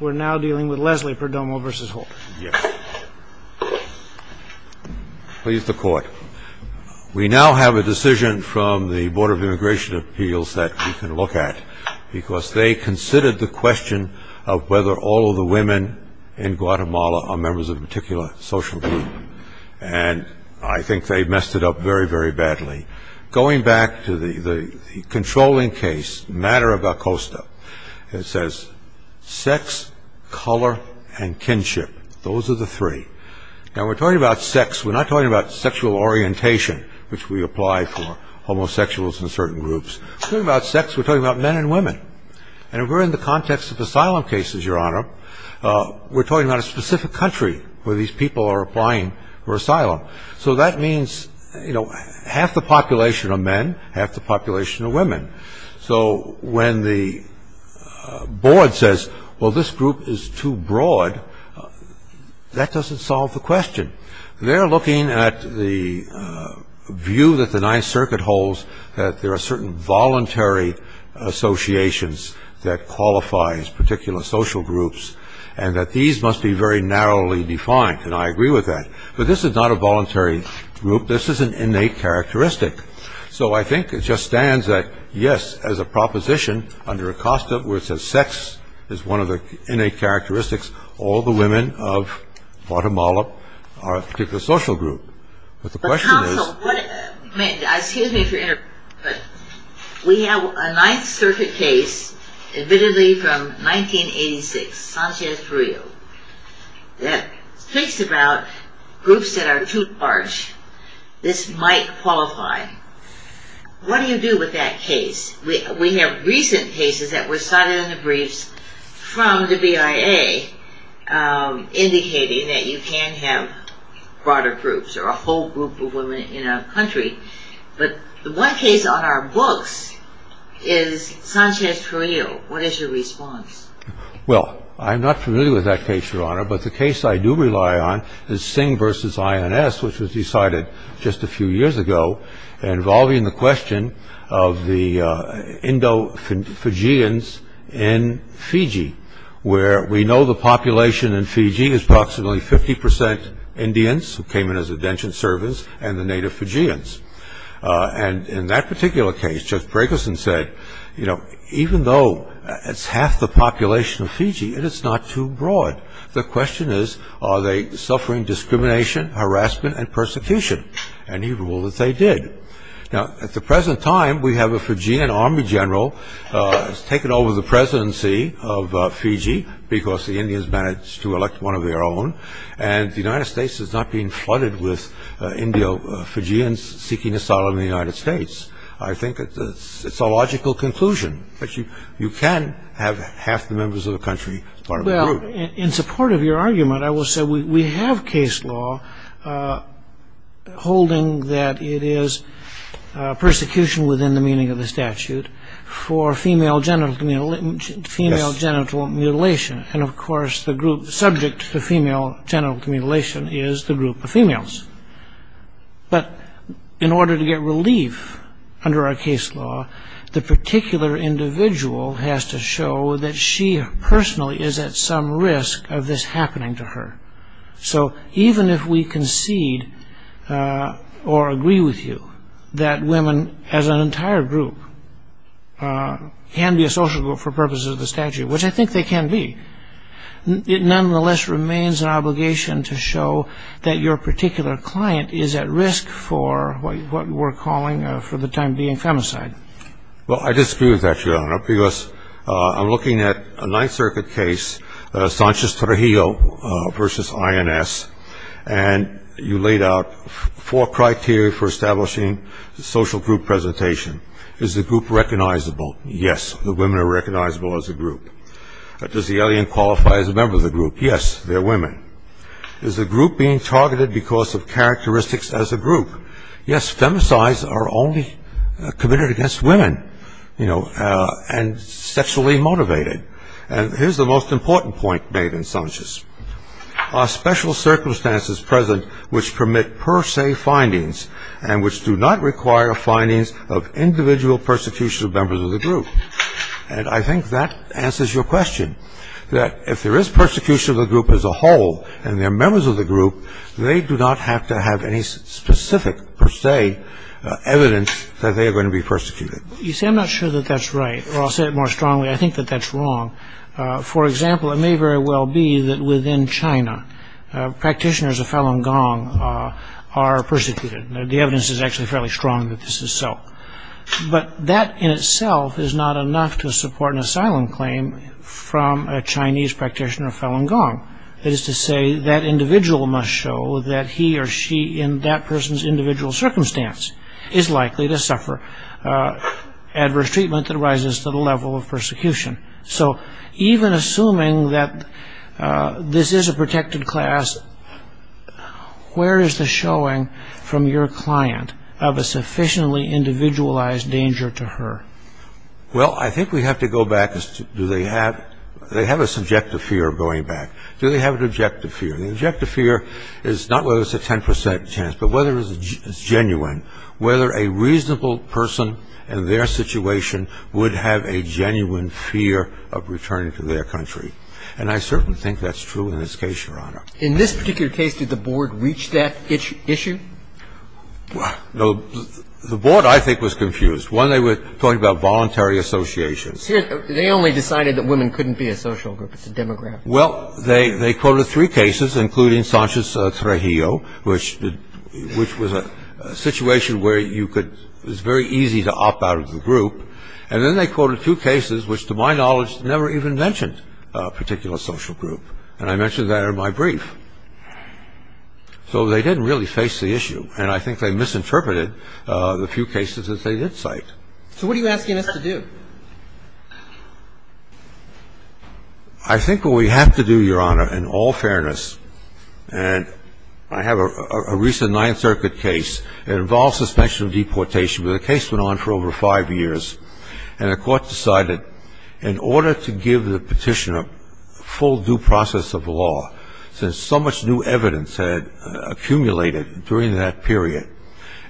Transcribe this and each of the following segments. We're now dealing with Leslie Perdomo v. Holder. Yes. Please, the court. We now have a decision from the Board of Immigration Appeals that we can look at because they considered the question of whether all of the women in Guatemala are members of a particular social group. And I think they messed it up very, very badly. Going back to the controlling case, the matter of Acosta, it says sex, color, and kinship. Those are the three. Now, we're talking about sex. We're not talking about sexual orientation, which we apply for homosexuals in certain groups. We're talking about sex. We're talking about men and women. And if we're in the context of asylum cases, Your Honor, we're talking about a specific country where these people are applying for asylum. So that means, you know, half the population are men, half the population are women. So when the board says, well, this group is too broad, that doesn't solve the question. They're looking at the view that the Ninth Circuit holds that there are certain voluntary associations that qualify as particular social groups and that these must be very narrowly defined. And I agree with that. But this is not a voluntary group. This is an innate characteristic. So I think it just stands that, yes, as a proposition, under Acosta, where it says sex is one of the innate characteristics, all the women of Guatemala are a particular social group. But the question is – But counsel, what – excuse me if you're interrupting, but we have a Ninth Circuit case admittedly from 1986, Sanchez-Frio, that speaks about groups that are too large. This might qualify. What do you do with that case? We have recent cases that were cited in the briefs from the BIA indicating that you can have broader groups or a whole group of women in a country. But the one case on our books is Sanchez-Frio. What is your response? Well, I'm not familiar with that case, Your Honor, but the case I do rely on is Singh v. INS, which was decided just a few years ago, involving the question of the Indo-Fijians in Fiji, where we know the population in Fiji is approximately 50% Indians who came in as a detention service and the native Fijians. And in that particular case, Judge Brakelson said, you know, even though it's half the population of Fiji, it is not too broad. The question is, are they suffering discrimination, harassment and persecution? And he ruled that they did. Now, at the present time, we have a Fijian army general has taken over the presidency of Fiji because the Indians managed to elect one of their own. And the United States is not being flooded with Indo-Fijians seeking asylum in the United States. I think it's a logical conclusion that you can have half the members of the country part of a group. In support of your argument, I will say we have case law holding that it is persecution within the meaning of the statute for female genital mutilation. And of course, the group subject to female genital mutilation is the group of females. But in order to get relief under our case law, the particular individual has to show that she personally is at some risk of this happening to her. So even if we concede or agree with you that women as an entire group can be a social group for purposes of the statute, which I think they can be, it nonetheless remains an obligation to show that your particular client is at risk for what we're calling for the time being, femicide. Well, I disagree with that, Your Honor, because I'm looking at a Ninth Circuit case, Sanchez-Trujillo v. INS, and you laid out four criteria for establishing the social group presentation. Is the group recognizable? Yes, the women are recognizable as a group. Does the alien qualify as a member of the group? Yes, they're women. Is the group being targeted because of characteristics as a group? Yes, femicides are only committed against women. You know, and sexually motivated. And here's the most important point made in Sanchez. Are special circumstances present which permit per se findings and which do not require findings of individual persecution of members of the group? And I think that answers your question, that if there is persecution of the group as a whole and they're members of the group, they do not have to have any specific per se evidence that they are going to be persecuted. You see, I'm not sure that that's right. Or I'll say it more strongly, I think that that's wrong. For example, it may very well be that within China, practitioners of Falun Gong are persecuted. The evidence is actually fairly strong that this is so. But that in itself is not enough to support an asylum claim from a Chinese practitioner of Falun Gong. That is to say, that individual must show that he or she in that person's individual circumstance is likely to suffer adverse treatment that rises to the level of persecution. So even assuming that this is a protected class, where is the showing from your client of a sufficiently individualized danger to her? Well, I think we have to go back. Do they have a subjective fear of going back? Do they have an objective fear? The objective fear is not whether it's a 10% chance, but whether it's genuine, whether a reasonable person in their situation would have a genuine fear of returning to their country. And I certainly think that's true in this case, Your Honor. In this particular case, did the board reach that issue? The board, I think, was confused. One, they were talking about voluntary associations. They only decided that women couldn't be a social group. It's a demographic. Well, they quoted three cases, including Sanchez Trejillo, which was a situation where it was very easy to opt out of the group. And then they quoted two cases which, to my knowledge, never even mentioned a particular social group. And I mentioned that in my brief. So they didn't really face the issue, and I think they misinterpreted the few cases that they did cite. So what are you asking us to do? I think what we have to do, Your Honor, in all fairness, and I have a recent Ninth Circuit case. It involved suspension of deportation, but the case went on for over five years. And the court decided in order to give the petitioner full due process of law, since so much new evidence had accumulated during that period,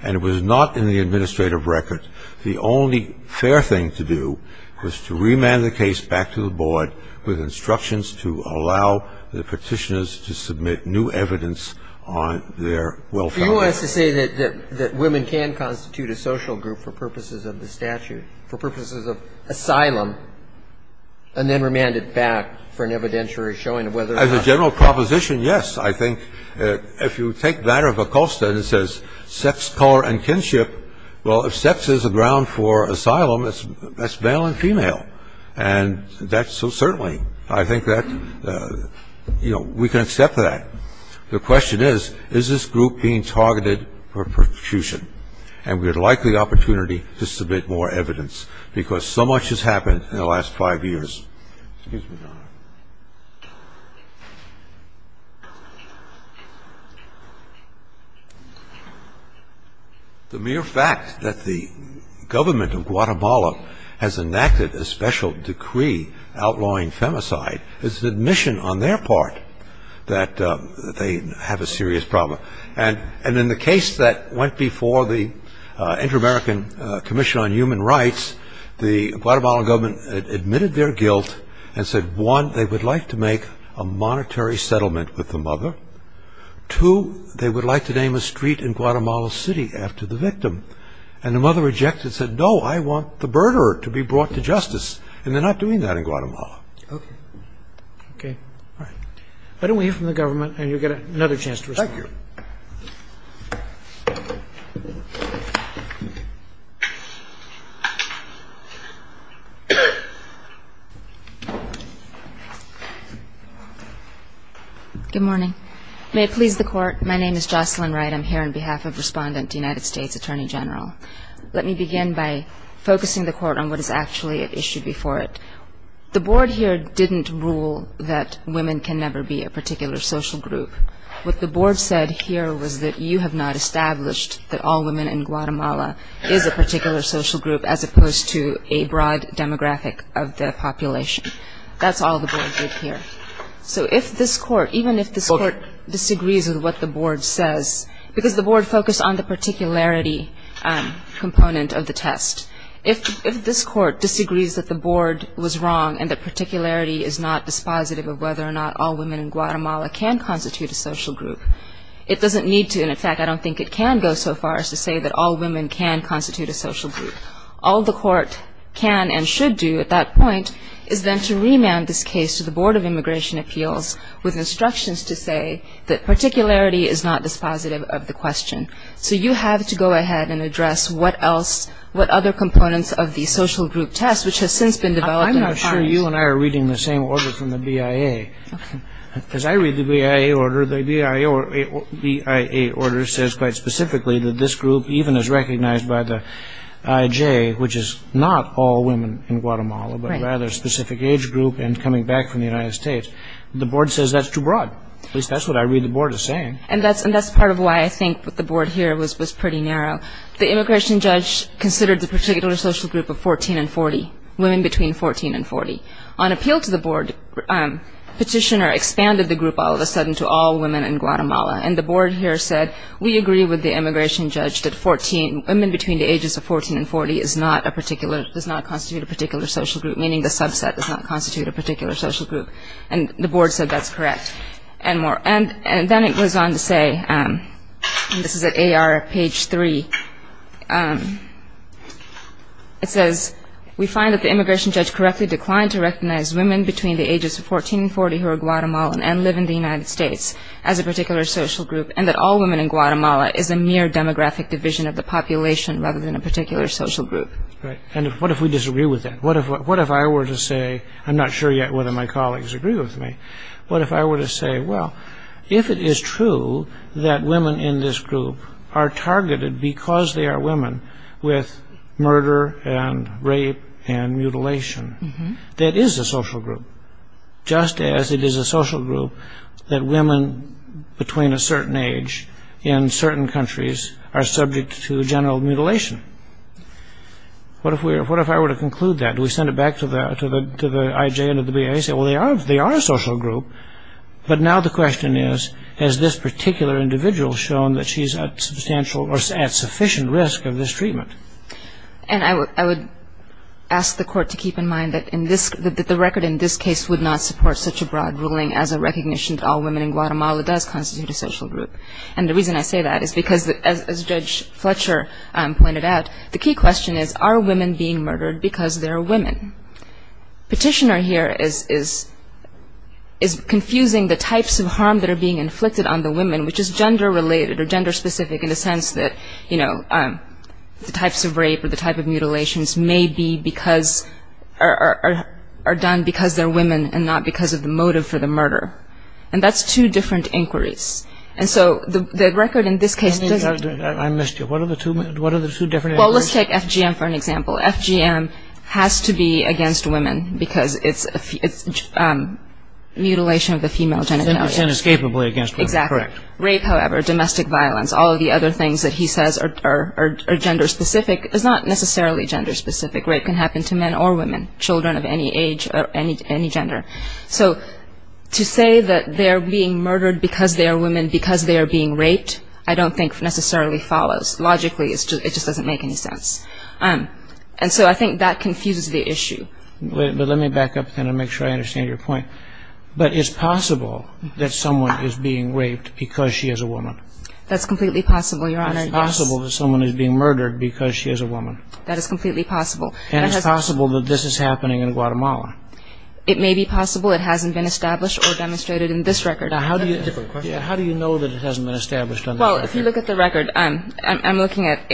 and it was not in the administrative record, the only fair thing to do was to remand the case back to the board with instructions to allow the petitioners to submit new evidence on their welfare. So you want us to say that women can constitute a social group for purposes of the statute, for purposes of asylum, and then remand it back for an evidentiary showing of whether or not. As a general proposition, yes. I think if you take that out of Acosta, it says sex, color, and kinship. Well, if sex is a ground for asylum, that's male and female. And that's so certainly I think that, you know, we can accept that. The question is, is this group being targeted for persecution? And we would like the opportunity to submit more evidence because so much has happened in the last five years. Excuse me, Your Honor. The mere fact that the government of Guatemala has enacted a special decree outlawing femicide is an admission on their part that they have a serious problem. And in the case that went before the Inter-American Commission on Human Rights, the Guatemalan government admitted their guilt and said, one, they would like to make a monetary settlement with the mother. Two, they would like to name a street in Guatemala City after the victim. And the mother rejected and said, no, I want the murderer to be brought to justice. And they're not doing that in Guatemala. Okay. All right. Why don't we hear from the government and you'll get another chance to respond. Thank you. Good morning. May it please the Court, my name is Jocelyn Wright. I'm here on behalf of Respondent, United States Attorney General. Let me begin by focusing the Court on what is actually at issue before it. The Board here didn't rule that women can never be a particular social group. What the Board said here was that you have not established that all women in Guatemala is a particular social group as opposed to a broad demographic of the population. That's all the Board did here. So if this Court, even if this Court disagrees with what the Board says, because the Board focused on the particularity component of the test, if this Court disagrees that the Board was wrong and the particularity is not dispositive of whether or not all women in Guatemala can constitute a social group, it doesn't need to, and in fact I don't think it can go so far as to say that all women can constitute a social group. All the Court can and should do at that point is then to remand this case to the Board of Immigration Appeals with instructions to say that particularity is not dispositive of the question. So you have to go ahead and address what other components of the social group test, which has since been developed in our parties. I'm not sure you and I are reading the same order from the BIA. As I read the BIA order, the BIA order says quite specifically that this group, even as recognized by the IJ, which is not all women in Guatemala, but rather a specific age group and coming back from the United States, the Board says that's too broad. At least that's what I read the Board as saying. And that's part of why I think the Board here was pretty narrow. The immigration judge considered the particular social group of 14 and 40, women between 14 and 40. On appeal to the Board, Petitioner expanded the group all of a sudden to all women in Guatemala, and the Board here said we agree with the immigration judge that women between the ages of 14 and 40 does not constitute a particular social group, meaning the subset does not constitute a particular social group, and the Board said that's correct. And then it goes on to say, and this is at AR page 3, it says we find that the immigration judge correctly declined to recognize women between the ages of 14 and 40 who are Guatemalan and live in the United States as a particular social group and that all women in Guatemala is a mere demographic division of the population rather than a particular social group. And what if we disagree with that? What if I were to say, I'm not sure yet whether my colleagues agree with me, but if I were to say, well, if it is true that women in this group are targeted because they are women with murder and rape and mutilation, that is a social group, just as it is a social group that women between a certain age in certain countries are subject to general mutilation. What if I were to conclude that? Do we send it back to the IJ and the BA and say, well, they are a social group, but now the question is, has this particular individual shown that she's at sufficient risk of this treatment? And I would ask the Court to keep in mind that the record in this case would not support such a broad ruling as a recognition that all women in Guatemala does constitute a social group. And the reason I say that is because, as Judge Fletcher pointed out, the key question is, are women being murdered because they're women? Petitioner here is confusing the types of harm that are being inflicted on the women, which is gender-related or gender-specific in the sense that, you know, the types of rape or the type of mutilations may be because or are done because they're women and not because of the motive for the murder. And that's two different inquiries. And so the record in this case doesn't... I missed you. What are the two different inquiries? Well, let's take FGM for an example. FGM has to be against women because it's mutilation of the female genitalia. It's inescapably against women. Exactly. Correct. Rape, however, domestic violence, all of the other things that he says are gender-specific, is not necessarily gender-specific. Rape can happen to men or women, children of any age or any gender. So to say that they are being murdered because they are women because they are being raped, I don't think necessarily follows. Logically, it just doesn't make any sense. And so I think that confuses the issue. But let me back up and make sure I understand your point. But it's possible that someone is being raped because she is a woman. That's completely possible, Your Honor. It's possible that someone is being murdered because she is a woman. That is completely possible. And it's possible that this is happening in Guatemala. It may be possible. It hasn't been established or demonstrated in this record. Now, how do you know that it hasn't been established on the record? Well, if you look at the record, I'm looking at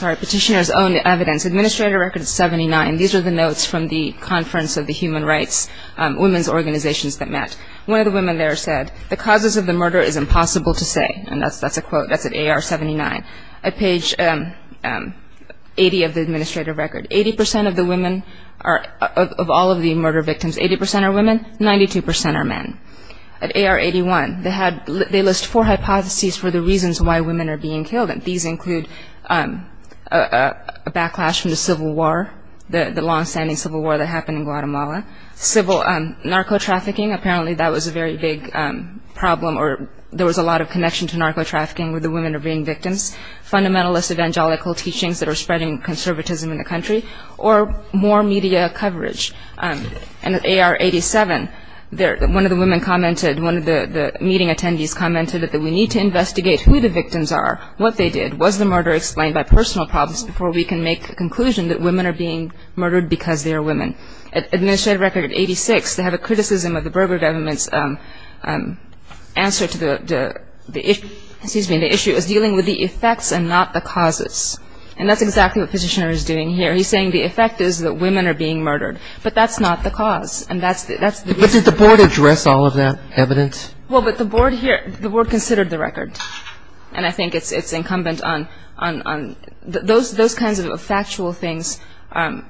petitioner's own evidence. Administrator record is 79. These are the notes from the Conference of the Human Rights Women's Organizations that met. One of the women there said, The causes of the murder is impossible to say. And that's a quote. That's at AR 79. At page 80 of the administrator record, 80% of all of the murder victims, 80% are women, 92% are men. At AR 81, they list four hypotheses for the reasons why women are being killed. And these include a backlash from the civil war, the long-standing civil war that happened in Guatemala, civil narco-trafficking, apparently that was a very big problem or there was a lot of connection to narco-trafficking where the women are being victims, fundamentalist evangelical teachings that are spreading conservatism in the country, or more media coverage. And at AR 87, one of the women commented, one of the meeting attendees commented that we need to investigate who the victims are, what they did, was the murder explained by personal problems before we can make a conclusion that women are being murdered because they are women. Administrator record 86, they have a criticism of the Berger government's answer to the issue, excuse me, the issue is dealing with the effects and not the causes. And that's exactly what the petitioner is doing here. He's saying the effect is that women are being murdered. But that's not the cause. And that's the reason. But did the board address all of that evidence? Well, but the board here, the board considered the record. And I think it's incumbent on those kinds of factual things,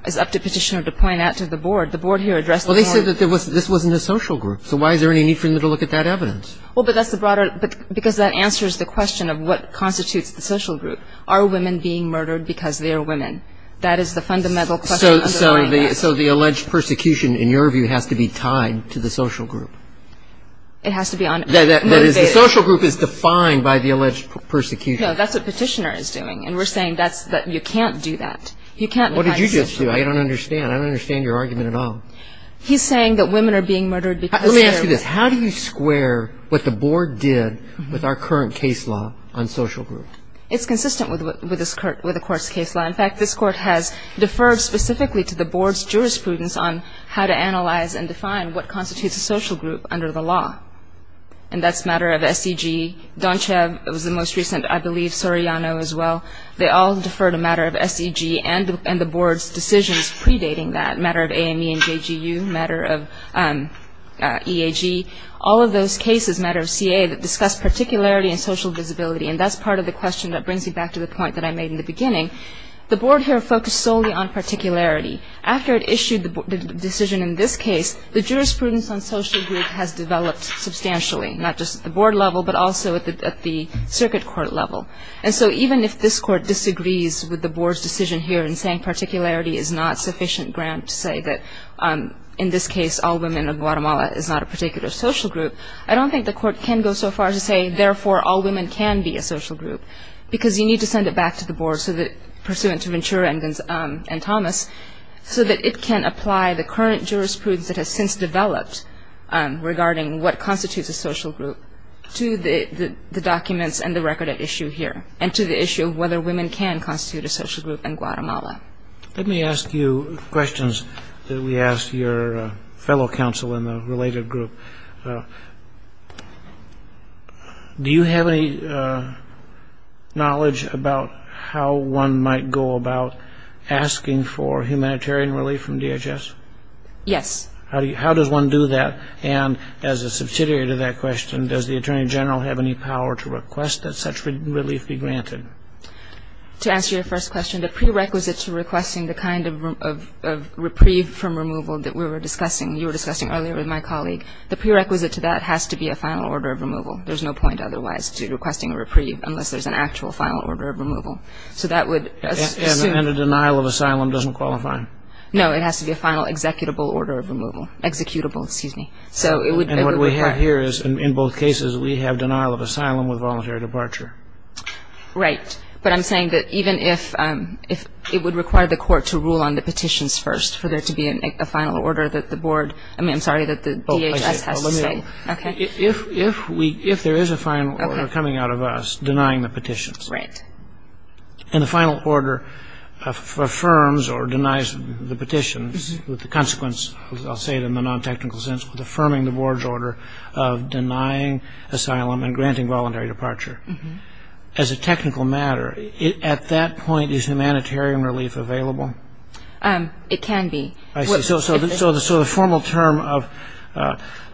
it's up to the petitioner to point out to the board. The board here addressed the board. Well, they said that this wasn't a social group. So why is there any need for them to look at that evidence? Well, but that's the broader, because that answers the question of what constitutes the social group. Are women being murdered because they are women? That is the fundamental question underlying that. So the alleged persecution, in your view, has to be tied to the social group? It has to be motivated. That is, the social group is defined by the alleged persecution. No, that's what petitioner is doing. And we're saying that you can't do that. You can't define social group. What did you just do? I don't understand. I don't understand your argument at all. He's saying that women are being murdered because they are women. Let me ask you this. How do you square what the board did with our current case law on social group? It's consistent with the court's case law. In fact, this court has deferred specifically to the board's jurisprudence on how to analyze and define what constitutes a social group under the law. And that's a matter of SEG. Donchev was the most recent. I believe Soriano as well. They all deferred a matter of SEG and the board's decisions predating that, a matter of AME and JGU, a matter of EAG, all of those cases, a matter of CA, that discuss particularity and social visibility. And that's part of the question that brings me back to the point that I made in the beginning. The board here focused solely on particularity. After it issued the decision in this case, the jurisprudence on social group has developed substantially, not just at the board level but also at the circuit court level. And so even if this court disagrees with the board's decision here in saying particularity is not sufficient ground to say that, in this case, all women of Guatemala is not a particular social group, I don't think the court can go so far as to say, therefore, all women can be a social group, because you need to send it back to the board pursuant to Ventura and Thomas so that it can apply the current jurisprudence that has since developed regarding what constitutes a social group to the documents and the record at issue here and to the issue of whether women can constitute a social group in Guatemala. Let me ask you questions that we asked your fellow counsel in the related group. Do you have any knowledge about how one might go about asking for humanitarian relief from DHS? Yes. How does one do that? And as a subsidiary to that question, does the Attorney General have any power to request that such relief be granted? To answer your first question, the prerequisite to requesting the kind of reprieve from removal that we were discussing, you were discussing earlier with my colleague, the prerequisite to that has to be a final order of removal. There's no point otherwise to requesting a reprieve unless there's an actual final order of removal. So that would assume… And a denial of asylum doesn't qualify? No, it has to be a final executable order of removal. And what we have here is, in both cases, we have denial of asylum with voluntary departure. Right. But I'm saying that even if it would require the court to rule on the petitions first for there to be a final order that the board… I mean, I'm sorry, that the DHS has to say. Okay. If there is a final order coming out of us denying the petitions. Right. And the final order affirms or denies the petitions with the consequence, I'll say it in the non-technical sense, with affirming the board's order of denying asylum and granting voluntary departure. As a technical matter, at that point, is humanitarian relief available? It can be. I see. So the formal term of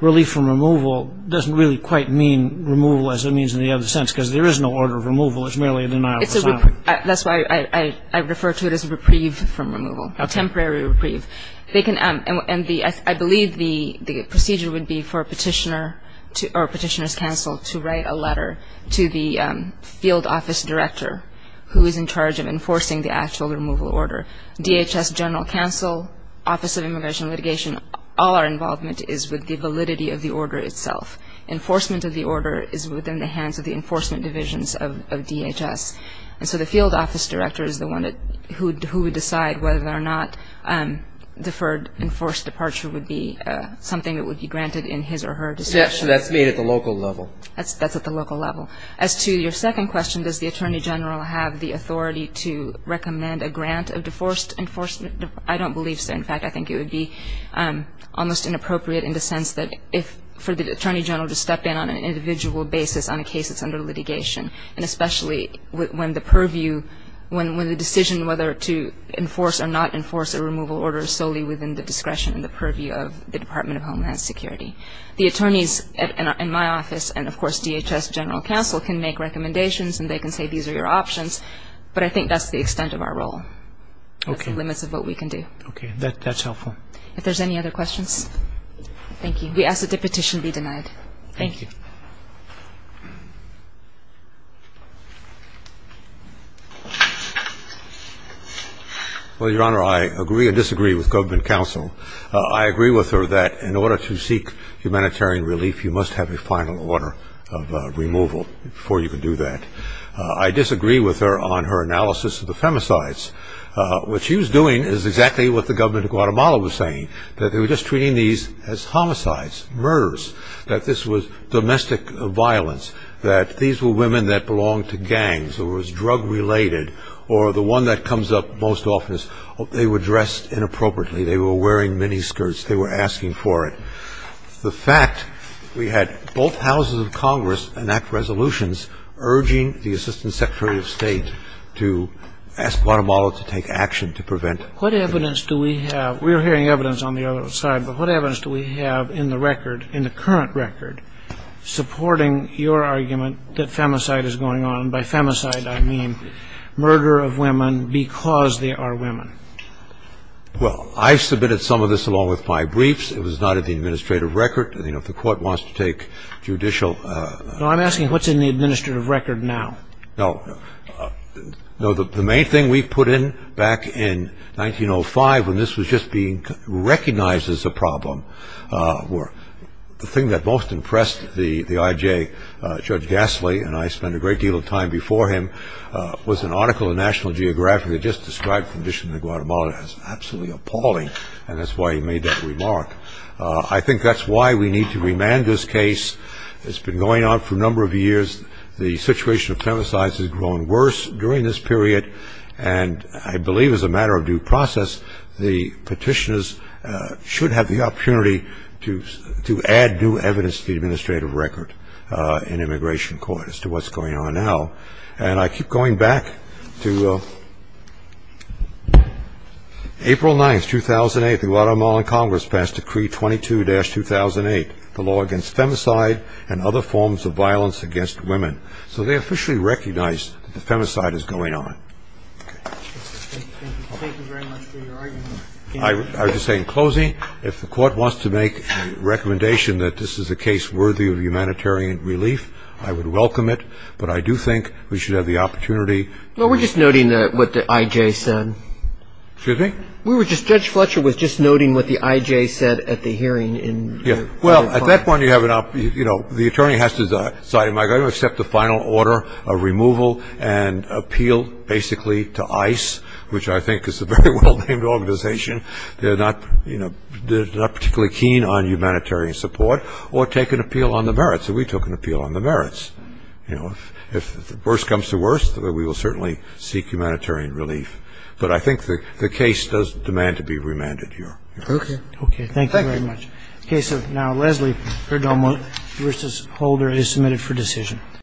relief from removal doesn't really quite mean removal as it means in the other sense, because there is no order of removal. It's merely a denial of asylum. That's why I refer to it as a reprieve from removal, a temporary reprieve. I believe the procedure would be for a petitioner's counsel to write a letter to the field office director who is in charge of enforcing the actual removal order. DHS General Counsel, Office of Immigration and Litigation, all our involvement is with the validity of the order itself. Enforcement of the order is within the hands of the enforcement divisions of DHS. And so the field office director is the one who would decide whether or not deferred enforced departure would be something that would be granted in his or her discretion. So that's made at the local level? That's at the local level. As to your second question, does the Attorney General have the authority to recommend a grant of deforced enforcement? I don't believe so. In fact, I think it would be almost inappropriate in the sense that for the Attorney General to step in on an individual basis on a case that's under litigation and especially when the purview, when the decision whether to enforce or not enforce a removal order is solely within the discretion and the purview of the Department of Homeland Security. The attorneys in my office and, of course, DHS General Counsel can make recommendations and they can say these are your options, but I think that's the extent of our role. Okay. That's the limits of what we can do. Okay. That's helpful. If there's any other questions? Thank you. We ask that the petition be denied. Thank you. Well, Your Honor, I agree and disagree with Government Counsel. I agree with her that in order to seek humanitarian relief, you must have a final order of removal before you can do that. I disagree with her on her analysis of the femicides. What she was doing is exactly what the government of Guatemala was saying, that they were just treating these as homicides, murders, that this was domestic violence, that these were women that belonged to gangs or was drug-related or the one that comes up most often is they were dressed inappropriately, they were wearing miniskirts, they were asking for it. The fact we had both houses of Congress enact resolutions urging the Assistant Secretary of State to ask Guatemala to take action to prevent it. What evidence do we have? We're hearing evidence on the other side, but what evidence do we have in the record, in the current record, supporting your argument that femicide is going on, and by femicide I mean murder of women because they are women? Well, I submitted some of this along with my briefs. It was not in the administrative record. You know, if the Court wants to take judicial... No, I'm asking what's in the administrative record now. No, the main thing we put in back in 1905, when this was just being recognized as a problem, the thing that most impressed the IJ, Judge Gasly, and I spent a great deal of time before him, was an article in National Geographic that just described the condition in Guatemala as absolutely appalling, and that's why he made that remark. I think that's why we need to remand this case. It's been going on for a number of years. The situation of femicides has grown worse during this period, and I believe as a matter of due process, the petitioners should have the opportunity to add new evidence to the administrative record in immigration court as to what's going on now. And I keep going back to April 9, 2008. The Guatemalan Congress passed Decree 22-2008, the law against femicide and other forms of violence against women. So they officially recognized that the femicide is going on. Thank you very much for your argument. I would just say in closing, if the Court wants to make a recommendation that this is a case worthy of humanitarian relief, I would welcome it, but I do think we should have the opportunity... Well, we're just noting what the IJ said. Excuse me? We were just... Judge Fletcher was just noting what the IJ said at the hearing in... Well, at that point, the attorney has to decide, am I going to accept the final order of removal and appeal basically to ICE, which I think is a very well-named organization. They're not particularly keen on humanitarian support, or take an appeal on the merits. So we took an appeal on the merits. If the worst comes to worst, we will certainly seek humanitarian relief. But I think the case does demand to be remanded here. Okay. Okay, thank you very much. The case of now Leslie Perdomo v. Holder is submitted for decision.